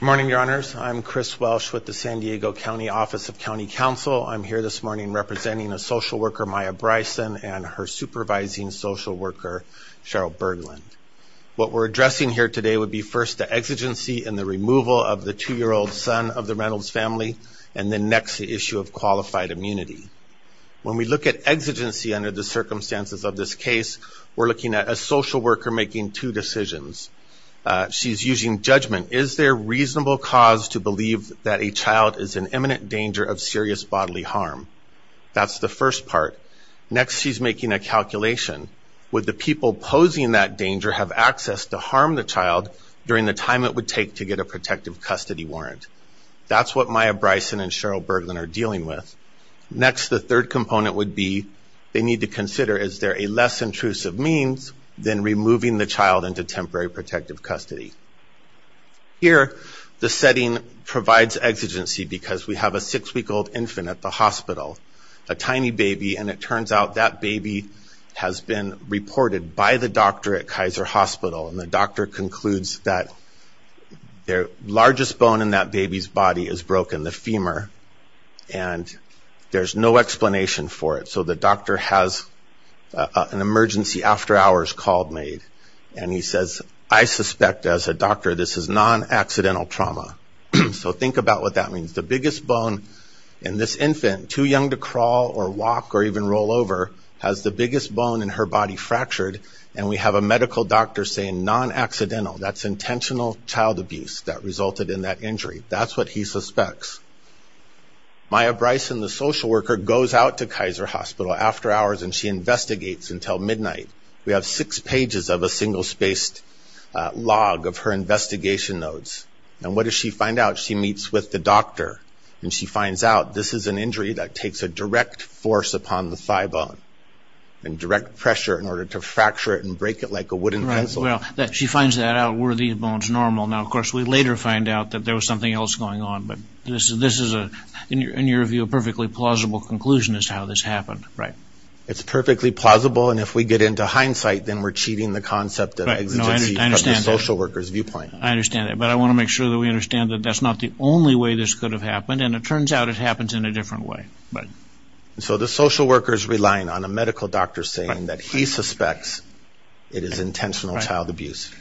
Morning your honors, I'm Chris Welsh with the San Diego County Office of County Counsel. I'm here this morning representing a social worker Maya Bryson and her supervising social worker Cheryl Berglund. What we're addressing here today would be first the exigency in the removal of the two-year-old son of the Reynolds family and the next issue of qualified immunity. When we look at exigency under the circumstances of this case we're looking at a social worker making two decisions. She's using judgment. Is there reasonable cause to believe that a child is in imminent danger of serious bodily harm? That's the first part. Next she's making a calculation. Would the people posing that danger have access to harm the child during the time it would take to get a protective custody warrant? That's what Maya Bryson and Cheryl Berglund are dealing with. Next the third component would be they need to consider is there a less intrusive means than removing the child into temporary protective custody? Here the setting provides exigency because we have a six-week-old infant at the hospital, a tiny baby, and it turns out that baby has been reported by the doctor at Kaiser Hospital and the doctor concludes that their largest bone in that baby's body is broken, the femur, and there's no explanation for it. So the emergency after hours call is made and he says, I suspect as a doctor this is non-accidental trauma. So think about what that means. The biggest bone in this infant, too young to crawl or walk or even roll over, has the biggest bone in her body fractured and we have a medical doctor saying non-accidental. That's intentional child abuse that resulted in that injury. That's what he suspects. Maya Bryson, the social worker, goes out to Kaiser Hospital after hours and she doesn't leave until midnight. We have six pages of a single spaced log of her investigation notes and what does she find out? She meets with the doctor and she finds out this is an injury that takes a direct force upon the thigh bone and direct pressure in order to fracture it and break it like a wooden pencil. She finds that out. Were these bones normal? Now, of course, we later find out that there was something else going on but this is, in your view, a perfectly plausible conclusion as to how this happened. Right. It's perfectly plausible and if we get into hindsight then we're cheating the concept of exigency from the social worker's viewpoint. I understand that but I want to make sure that we understand that that's not the only way this could have happened and it turns out it happens in a different way. Right. So the social worker is relying on a medical doctor saying that he suspects it is intentional child abuse.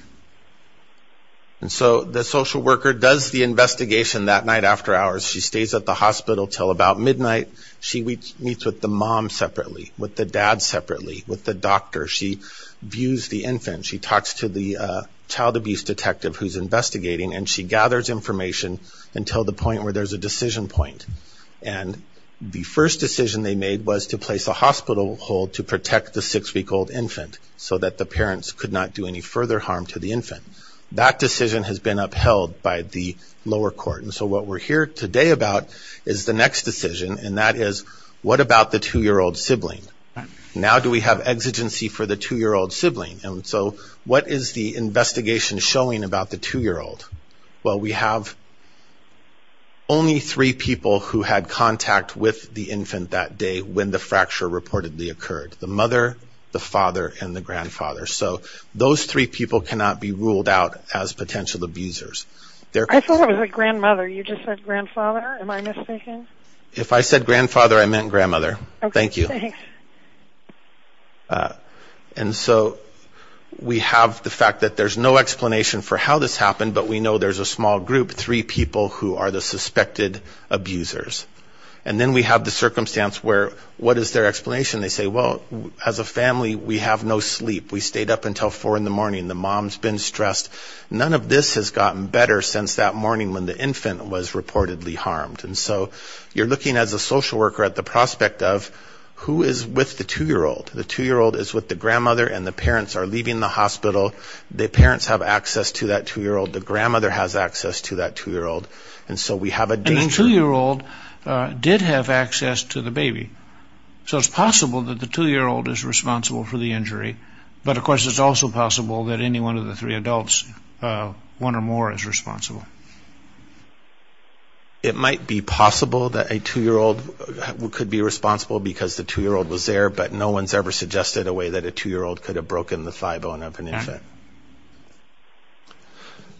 And so the social worker does the investigation that night after hours. She stays at the hospital till about midnight. She meets with the mom separately, with the dad separately, with the doctor. She views the infant. She talks to the child abuse detective who's investigating and she gathers information until the point where there's a decision point. And the first decision they made was to place a hospital hold to protect the six week old infant so that the parents could not do any further harm to the infant. That decision has been upheld by the lower court and so what we're here today about is the next decision and that is what about the two-year-old sibling. Now do we have exigency for the two-year-old sibling and so what is the investigation showing about the two-year-old? Well we have only three people who had contact with the infant that day when the fracture reportedly occurred. The mother, the father, and the grandfather. So those three people cannot be ruled out as potential abusers. I thought it was the grandmother. You just said grandfather. Am I mistaken? If I said grandfather I meant grandmother. Thank you. And so we have the fact that there's no explanation for how this happened but we know there's a small group, three people who are the suspected abusers. And then we have the circumstance where what is their explanation? They say well as a family we have no sleep. We stayed up until 4 in the morning. The mom's been stressed. None of this has gotten better since that morning when the infant was reportedly harmed. And so you're looking as a social worker at the prospect of who is with the two-year-old. The two-year-old is with the grandmother and the parents are leaving the hospital. The parents have access to that two-year-old. The grandmother has access to that two-year-old. And so we have a danger. And the two-year-old did have access to the baby. So it's possible that the two-year-old is responsible for the injury but of course it's also possible that any one of the three adults, one or more, is responsible. It might be possible that a two-year-old could be responsible because the two-year-old was there but no one's ever suggested a way that a two-year-old could have broken the thigh bone of an infant.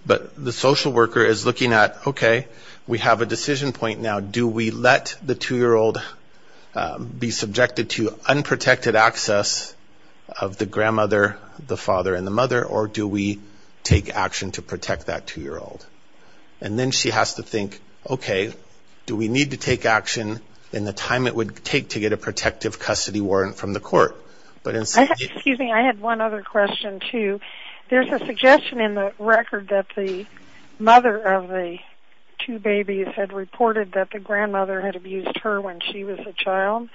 But the social worker is looking at okay we have a decision point now. Do we let the two-year-old be subjected to unprotected access of the grandmother, the father, and the two-year-old? And then she has to think, okay, do we need to take action in the time it would take to get a protective custody warrant from the court? But in some cases... Excuse me, I had one other question too. There's a suggestion in the record that the mother of the two babies had reported that the grandmother had abused her when she was a child.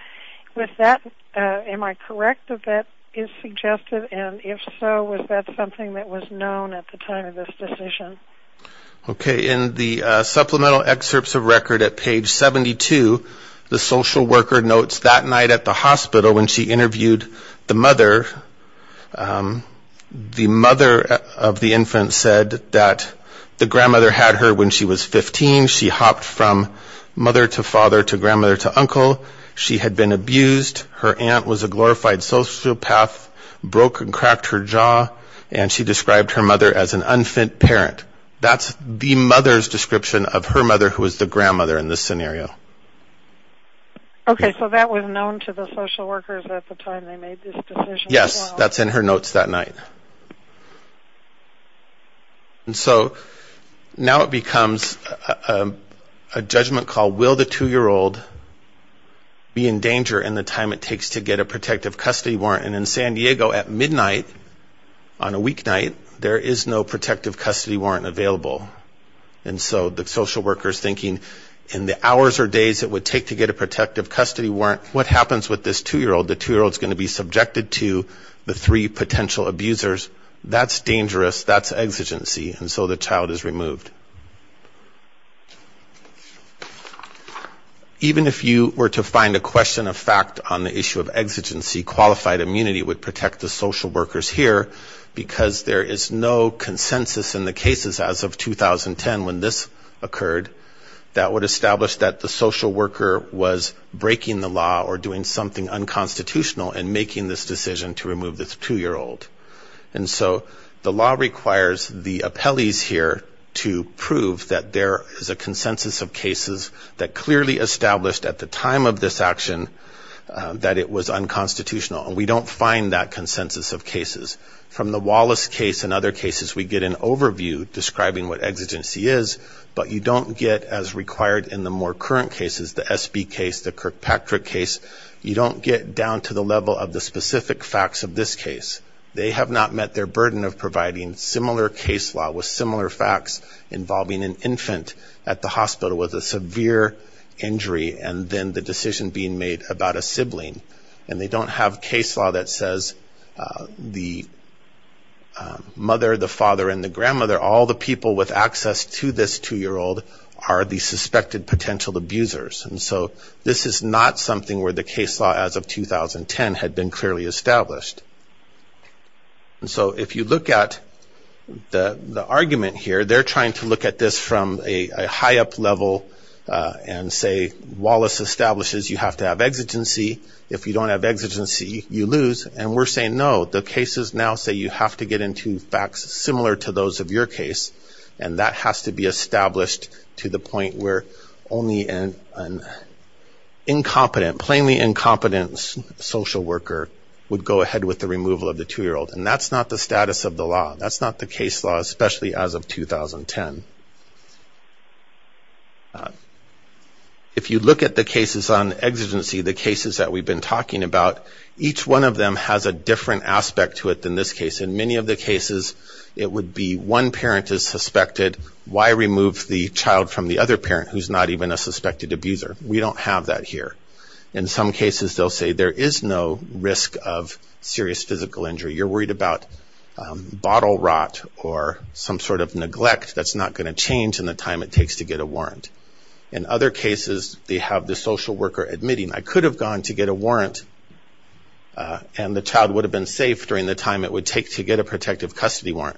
With that, am I correct if that is suggested? And if so, was that something that was known at the time of this decision? Okay, in the supplemental excerpts of record at page 72, the social worker notes that night at the hospital when she interviewed the mother, the mother of the infant said that the grandmother had her when she was 15. She hopped from mother to father to grandmother to uncle. She had been abused. Her aunt was a glorified sociopath, broke and cracked her jaw, and she described her mother as an unfit parent. That's the mother's description of her mother who was the grandmother in this scenario. Okay, so that was known to the social workers at the time they made this decision? Yes, that's in her notes that night. And so, now it becomes a judgment call, will the two-year-old be in danger in the time it takes to get a protective custody warrant? And in San Diego, at midnight on a weeknight, there is no protective custody warrant available. And so, the social worker's thinking, in the hours or days it would take to get a protective custody warrant, what happens with this two-year-old? The two-year-old's going to be subjected to the three potential abusers. That's dangerous. That's exigency. And so, the child is removed. Even if you were to find a question of fact on the issue of exigency, qualified immunity would protect the social workers here because there is no consensus in the cases as of 2010 when this occurred that would establish that the social worker was breaking the law or doing something unconstitutional in making this decision to remove this two-year-old. And so, the law requires the appellees here to prove that there is a consensus of cases that clearly established at the time of this action that it was unconstitutional. And we don't find that consensus of cases. From the Wallace case and other cases, we get an overview describing what exigency is, but you don't get as required in the more current cases, the SB case, the Kirkpatrick case, you don't get down to the level of the specific facts of this case. They have not met their burden of providing similar case law with similar facts involving an infant at the hospital with a severe injury and then the decision being made about a sibling. And they don't have case law that says the mother, the father, and the grandmother, all the people with access to this two-year-old are the suspected potential abusers. And so, this is not something where the case law as of 2010 had been clearly established. And so, if you look at the argument here, they're trying to look at this from a high-up level and say, Wallace establishes you have to have exigency. If you don't have exigency, you lose. And we're saying, no, the cases now say you have to get into facts similar to those of your case, and that has to be established to the point where only an incompetent, plainly incompetent parent would go ahead with the removal of the two-year-old. And that's not the status of the law. That's not the case law, especially as of 2010. If you look at the cases on exigency, the cases that we've been talking about, each one of them has a different aspect to it than this case. In many of the cases, it would be one parent is suspected. Why remove the child from the other parent who's not even a suspected abuser? We don't have that here. In some cases, they'll say there is no risk of serious physical injury. You're worried about bottle rot or some sort of neglect that's not going to change in the time it takes to get a warrant. In other cases, they have the social worker admitting, I could have gone to get a warrant and the child would have been safe during the time it would take to get a protective custody warrant.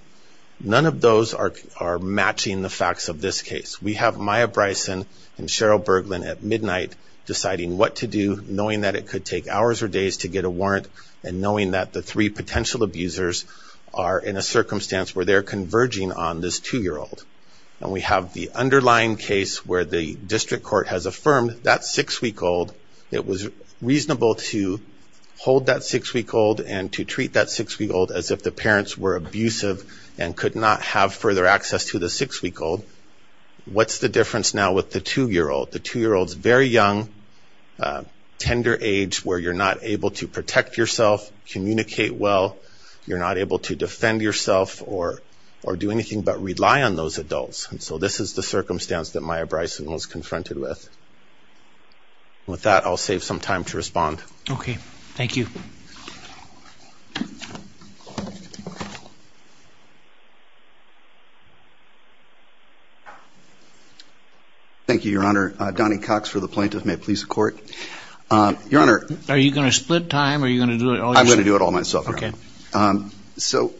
None of those are matching the facts of this case. We have Maya Bryson and Cheryl Berglund at midnight deciding what to do, knowing that it could take hours or days to get a warrant, and knowing that the three potential abusers are in a circumstance where they're converging on this two-year-old. And we have the underlying case where the district court has affirmed that six-week-old, it was reasonable to hold that six-week-old and to treat that six-week-old as if the parents were abusive and could not have further access to the six-week-old. What's the difference now with the two-year-old? The two-year-old's very young, tender age where you're not able to protect yourself, communicate well, you're not able to defend yourself or do anything but rely on those adults. So this is the circumstance that Maya Bryson was confronted with. With that, I'll save some time to respond. Okay. Thank you. Thank you, Your Honor. Donnie Cox for the Plaintiff. May it please the Court. Your Honor. Are you going to split time? Are you going to do it all yourself? I'm going to do it all myself, Your Honor. Okay. So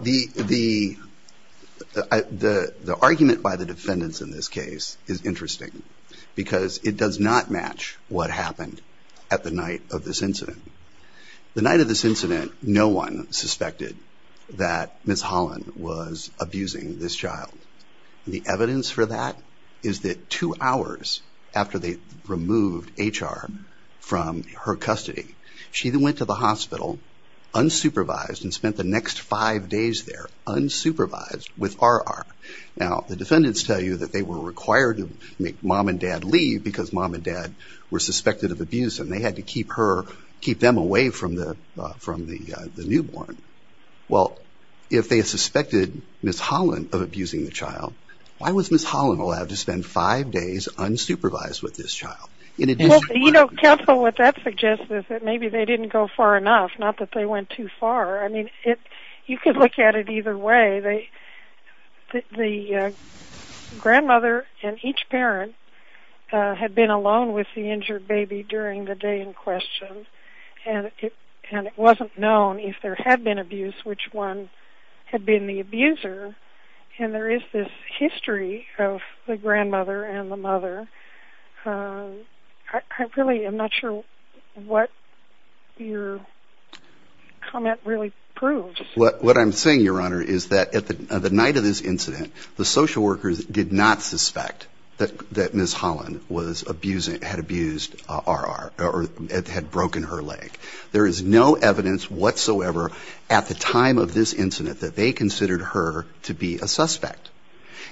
the argument by the defendants in this case is interesting because it does not match what happened at the night of this incident. The night of this incident, no one suspected that Ms. Holland was abusing this child. The evidence for that is that two hours after they removed H.R. from her custody, she went to the hospital unsupervised and spent the next five days there unsupervised with R.R. Now, the defendants tell you that they were required to make Mom and Dad leave because Mom and Dad were suspected of abuse and they had to keep them away from the newborn. Well, if they suspected Ms. Holland of abusing the child, why was Ms. Holland allowed to spend five days unsupervised with this child? Counsel, what that suggests is that maybe they didn't go far enough, not that they went too far. I mean, you could look at it either way. The grandmother and each parent had been alone with the injured baby during the day in question and it wasn't known if there had been abuse which one had been the abuser. And there is this history of the grandmother and the abuser. What I'm saying, Your Honor, is that at the night of this incident, the social workers did not suspect that Ms. Holland had abused R.R. or had broken her leg. There is no evidence whatsoever at the time of this incident that they considered her to be a suspect.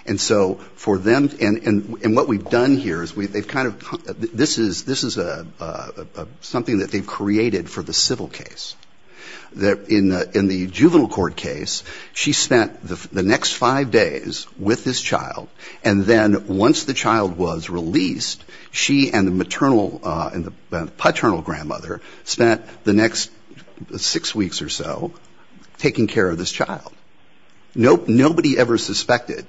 And so for them, and what we've done here is we've kind of, this is something that they've created for the civil case. In the juvenile court case, she spent the next five days with this child and then once the child was released, she and the paternal grandmother spent the next six weeks or so taking care of this child. Nobody ever suspected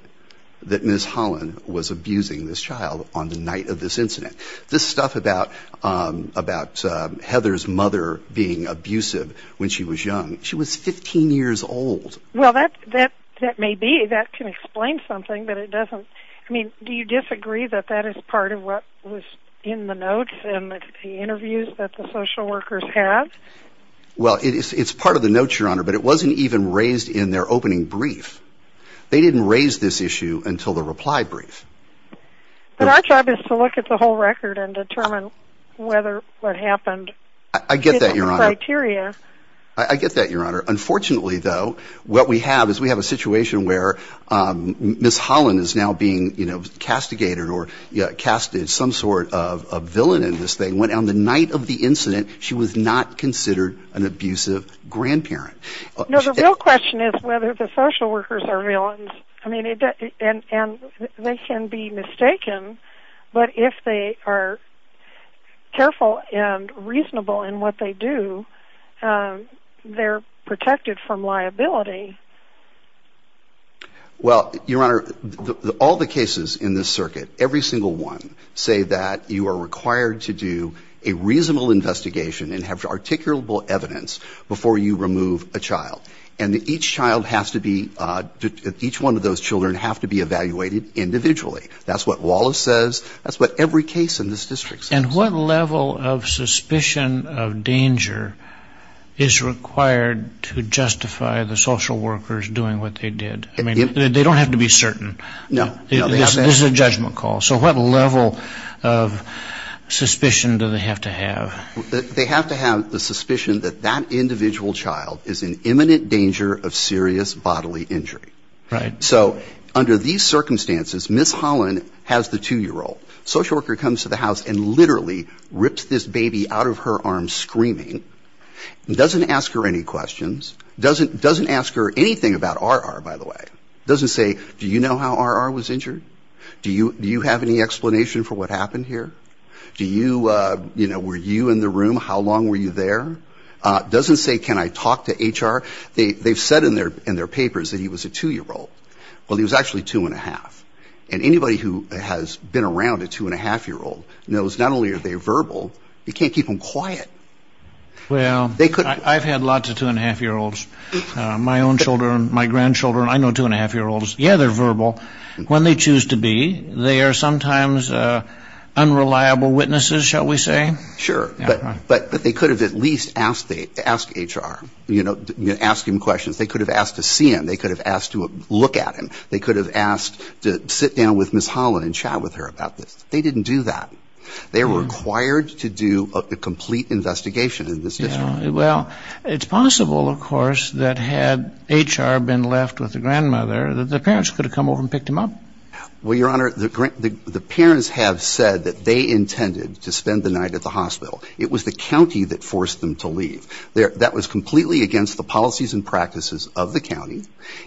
that Ms. Holland was abusing this child on the day of this incident. This stuff about Heather's mother being abusive when she was young, she was 15 years old. Well, that may be, that can explain something, but it doesn't, I mean, do you disagree that that is part of what was in the notes and the interviews that the social workers have? Well, it's part of the notes, Your Honor, but it wasn't even raised in their opening brief. They didn't raise this issue until the reply brief. But our job is to look at the whole record and determine whether what happened meets the criteria. I get that, Your Honor. Unfortunately, though, what we have is we have a situation where Ms. Holland is now being castigated or casted some sort of villain in this thing when on the night of the incident, she was not considered an abusive grandparent. No, the real question is whether the social workers are villains. I mean, they can be mistaken, but if they are careful and reasonable in what they do, they're protected from liability. Well, Your Honor, all the cases in this circuit, every single one, say that you are required to do a reasonable investigation and have articulable evidence before you remove a child. And each child has to be, each one of those children have to be evaluated individually. That's what Wallace says. That's what every case in this district says. And what level of suspicion of danger is required to justify the social workers doing what they did? I mean, they don't have to be certain. No. This is a judgment call. So what level of suspicion do they have to have? They have to have the suspicion that that individual child is in imminent danger of serious bodily injury. Right. So under these circumstances, Ms. Holland has the 2-year-old. Social worker comes to the house and literally rips this baby out of her arms screaming, doesn't ask her any questions, doesn't ask her anything about R.R., by the way. Doesn't say, do you know how R.R. was injured? Do you have any explanation for what happened here? Do you, you know, were you in the room? How long were you there? Doesn't say, can I talk to H.R.? They've said in their papers that he was a 2-year-old. Well, he was actually 2-1⁄2. And anybody who has been around a 2-1⁄2-year-old knows not only are they verbal, you can't keep them quiet. Well, I've had lots of 2-1⁄2-year-olds. My own children, my grandchildren, I know 2-1⁄2-year-olds. Yeah, they're verbal. When they choose to be, they are sometimes unreliable witnesses, shall we say? Sure, but they could have at least asked H.R., you know, asked him questions. They could have asked to see him. They could have asked to look at him. They could have asked to sit down with Ms. Holland and chat with her about this. They didn't do that. They were required to do a complete investigation in this district. Well, it's possible, of course, that had H.R. been left with the grandmother, that the parents could have come over and picked him up. Well, Your Honor, the parents have said that they intended to spend the night at the hospital. It was the county that forced them to leave. That was completely against the policies and practices of the county.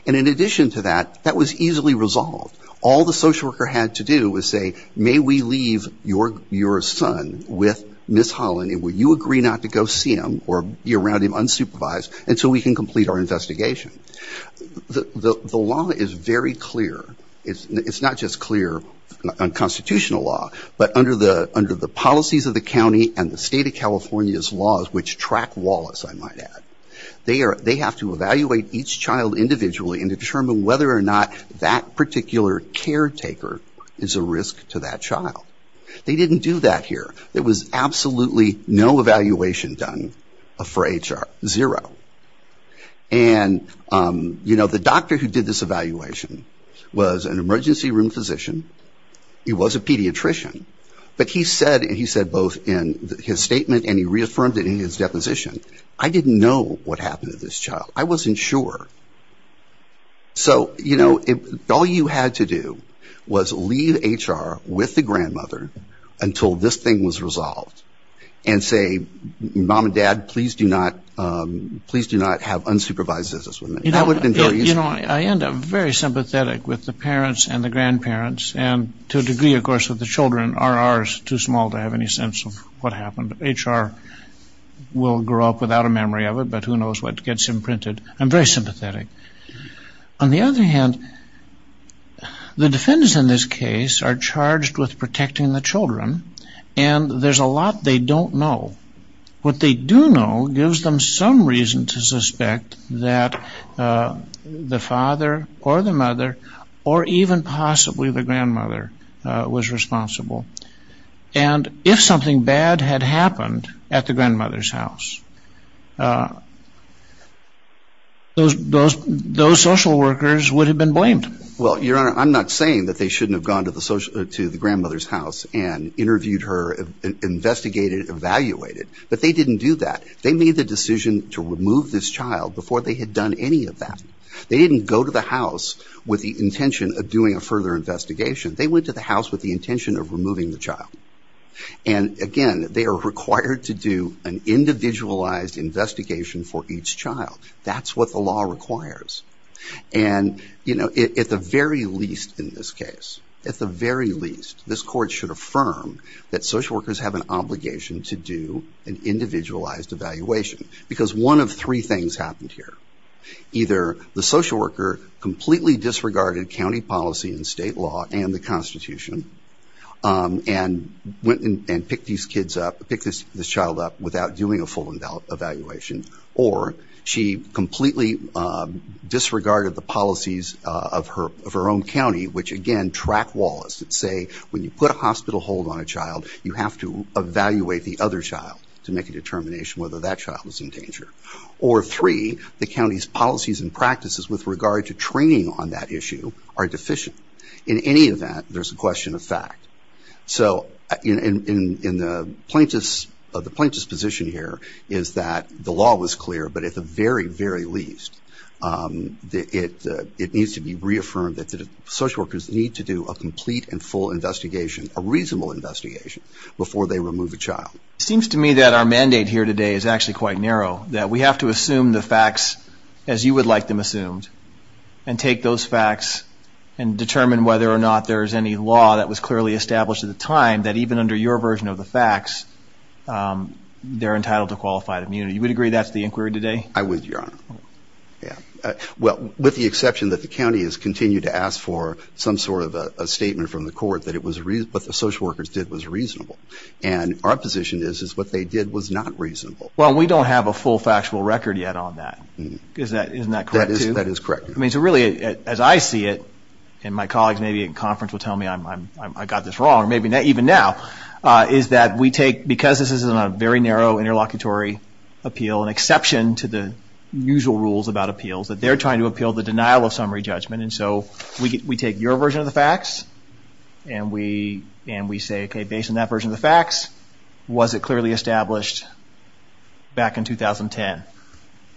And in addition to that, that was easily resolved. All the social worker had to do was say, may we leave your son with Ms. Holland, and will you agree not to go see him or be around him unsupervised until we can complete our investigation? The law is very clear. It's not just clear on constitutional law, but under the policies of the county and the state of California's laws, which track Wallace, I might add, they have to evaluate each child individually and determine whether or not that particular caretaker is a risk to that child. They didn't do that here. There was absolutely no evaluation done for H.R. Zero. And, you know, the doctor who did this evaluation was an emergency room physician. He was a pediatrician. But he said, and he said both in his statement and he reaffirmed it in his deposition, I didn't know what happened to this child. I wasn't sure. So, you know, all you had to do was leave H.R. with the grandmother until this thing was resolved and say, mom and dad, please do not, please do not have unsupervised visits with me. You know, I end up very sympathetic with the parents and the grandparents and to a degree, of course, with the children. R.R. is too small to have any sense of what happened. H.R. will grow up without a memory of it, but who knows what gets imprinted. I'm very sympathetic. On the other hand, the defendants in this case are charged with protecting the children and there's a lot they don't know. What they do know gives them some reason to suspect that the father or the mother or even possibly the grandmother was responsible. And if something bad had happened at the grandmother's house, those social workers would have been blamed. Well, Your Honor, I'm not saying that they shouldn't have gone to the grandmother's house and interviewed her, investigated, evaluated, but they didn't do that. They made the decision to remove this child before they had done any of that. They didn't go to the house with the intention of doing a further investigation. They went to the house with the intention of removing the child. And again, they are required to do an individualized investigation for each child. That's what the law requires. And, you know, at the very least in this case, at the very least, this court should affirm that social workers have an obligation to do an individualized evaluation. Because one of three things happened here. Either the social worker completely disregarded county policy and state law and the Constitution and went and picked these kids up, picked this child up without doing a full evaluation or she completely disregarded the policies of her own county which again track laws that say when you put a hospital hold on a child, you have to evaluate the other child to make a determination whether that child is in danger. Or three, the county's policies and practices with regard to training on that issue are deficient. In any event, there's a question of fact. So in the plaintiff's position here is that the law was clear, but at the very, very least it needs to be reaffirmed that social workers need to do a complete and full investigation, a reasonable investigation, before they remove a child. It seems to me that our mandate here today is actually quite narrow, that we have to assume the facts as you would like them assumed and take those facts and determine whether or not there's any law that was clearly established at the time that even under your version of the facts they're entitled to qualified immunity. Would you agree that's the inquiry today? I would, Your Honor. With the exception that the county has continued to ask for some sort of a statement from the court that what the social workers did was reasonable. And our position is what they did was not reasonable. Well, we don't have a full factual record yet on that. Isn't that correct? That is correct, Your Honor. As I see it, and my colleagues maybe at conference will tell me I got this wrong or maybe not even now, is that we take, because this is a very narrow interlocutory appeal an exception to the usual rules about appeals, that they're trying to appeal the denial of summary judgment. And so we take your version of the facts and we say, okay, based on that version of the facts, was it clearly established back in 2010?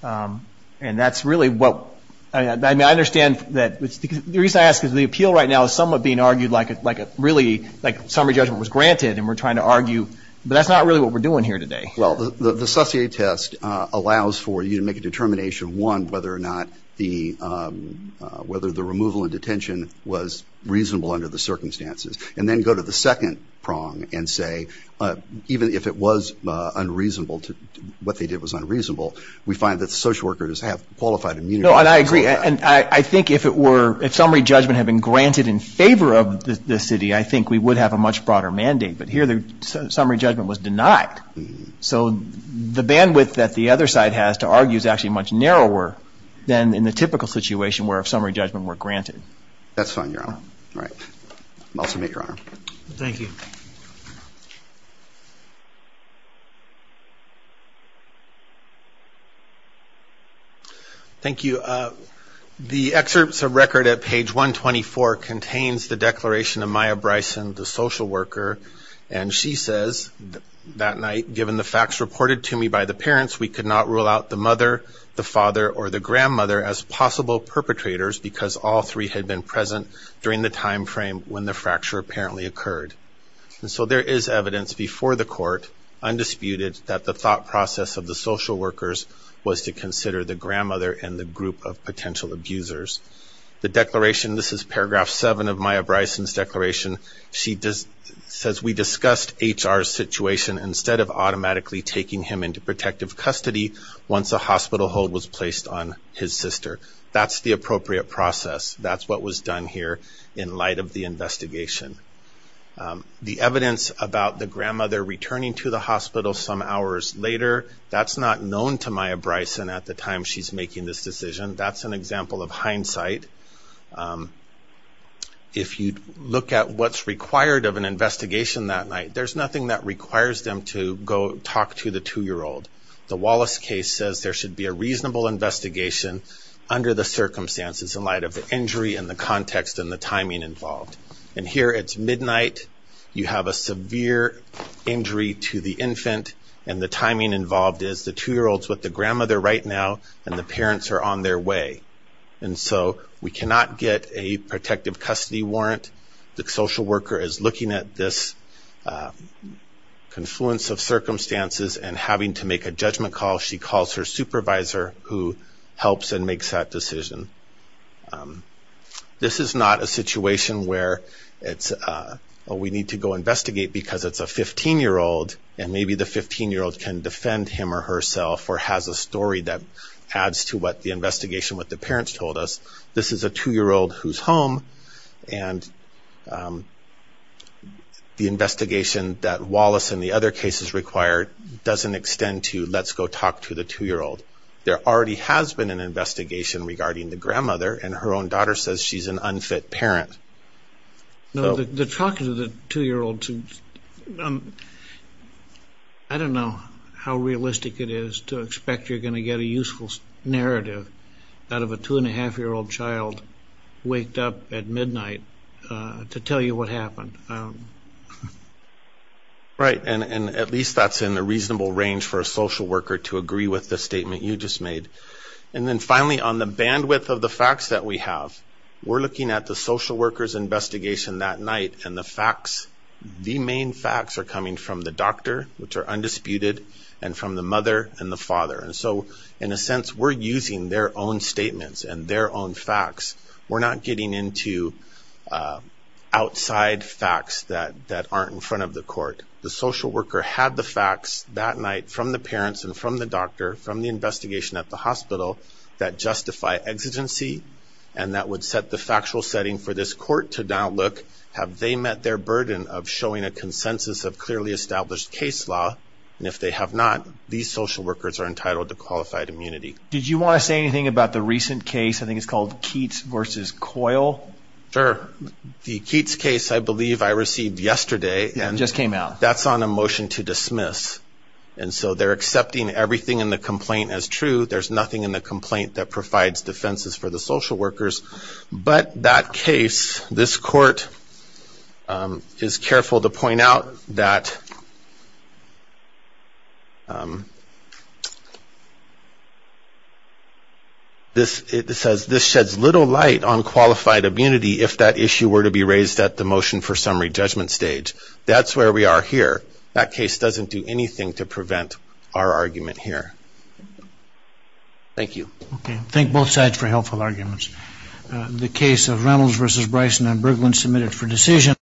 And that's really what I mean, I understand that the reason I ask is the appeal right now is somewhat being argued like a really summary judgment was granted and we're trying to argue but that's not really what we're doing here today. Well, the Susie A test allows for you to make a determination, one, whether or not the whether the removal and detention was reasonable under the circumstances and then go to the second prong and say, even if it was unreasonable, what they did was unreasonable, we find that social workers have qualified immunity. No, and I agree, and I think if it were if summary judgment had been granted in favor of the city, I think we would have a much broader mandate, but here the summary judgment was denied. So the bandwidth that the other side has to argue is actually much narrower than in the typical situation where summary judgment were granted. That's fine, your honor. Thank you. Thank you. The excerpts of record at page 124 contains the declaration of Maya Bryson, the social worker, and she says that night, given the facts reported to me by the parents, we could not rule out the mother, the father, or the grandmother as possible perpetrators because all three had been present during the time frame when the fracture apparently occurred. And so there is evidence before the court undisputed that the thought process of the social workers was to consider the grandmother and the group of potential abusers. The declaration this is paragraph 7 of Maya Bryson's declaration, she says we discussed HR's decision to take Maya Bryson to the hospital instead of automatically taking him into protective custody once a hospital hold was placed on his sister. That's the appropriate process. That's what was done here in light of the investigation. The evidence about the grandmother returning to the hospital some hours later, that's not known to Maya Bryson at the time she's making this decision. That's an example of hindsight. If you look at what's required of an investigation that night, there's nothing that requires them to go talk to the two-year-old. The Wallace case says there should be a reasonable investigation under the circumstances in light of the injury and the context and the timing involved. And here it's midnight, you have a severe injury to the infant and the timing involved is the two-year-old's with the grandmother right now and the parents are on their way. And so we cannot get a protective custody warrant. The social worker is looking at this confluence of circumstances and having to make a judgment call. She calls her supervisor who helps and makes that decision. This is not a situation where it's we need to go investigate because it's a 15-year-old and maybe the 15-year-old can defend him or herself or has a story that adds to what the investigation, what the parents told us. This is a two-year-old who's home and the investigation that Wallace and the other cases require doesn't extend to let's go talk to the two-year-old. There already has been an investigation regarding the grandmother and her own daughter says she's an unfit parent. The talk to the two-year-old I don't know how realistic it is to expect you're going to get a useful narrative out of a two-and-a-half-year-old child waked up at midnight to tell you what happened. At least that's in a reasonable range for a social worker to agree with the statement you just made. Finally, on the bandwidth of the facts that we have, we're looking at the social worker's investigation that night and the facts, the main facts are coming from the doctor which are undisputed and from the investigation at the hospital. We're using their own statements and their own facts. We're not getting into outside facts that aren't in front of the court. The social worker had the facts that night from the parents and from the doctor, from the investigation at the hospital that justify exigency and that would set the factual setting for this court to now look have they met their burden of showing a consensus of clearly established case law and if they have not these social workers are entitled to qualified immunity. Did you want to say anything about the recent case, I think it's called Keats versus Coyle? Sure. The Keats case, I believe I received yesterday. It just came out. That's on a motion to dismiss and so they're accepting everything in the complaint as true. There's nothing in the complaint that provides defenses for the social workers, but that case, this court is careful to um this it says this sheds little light on qualified immunity if that issue were to be raised at the motion for summary judgment stage. That's where we are here. That case doesn't do anything to prevent our argument here. Thank you. Thank both sides for helpful arguments. The case of Reynolds versus Bryson and Berglund submitted for decision.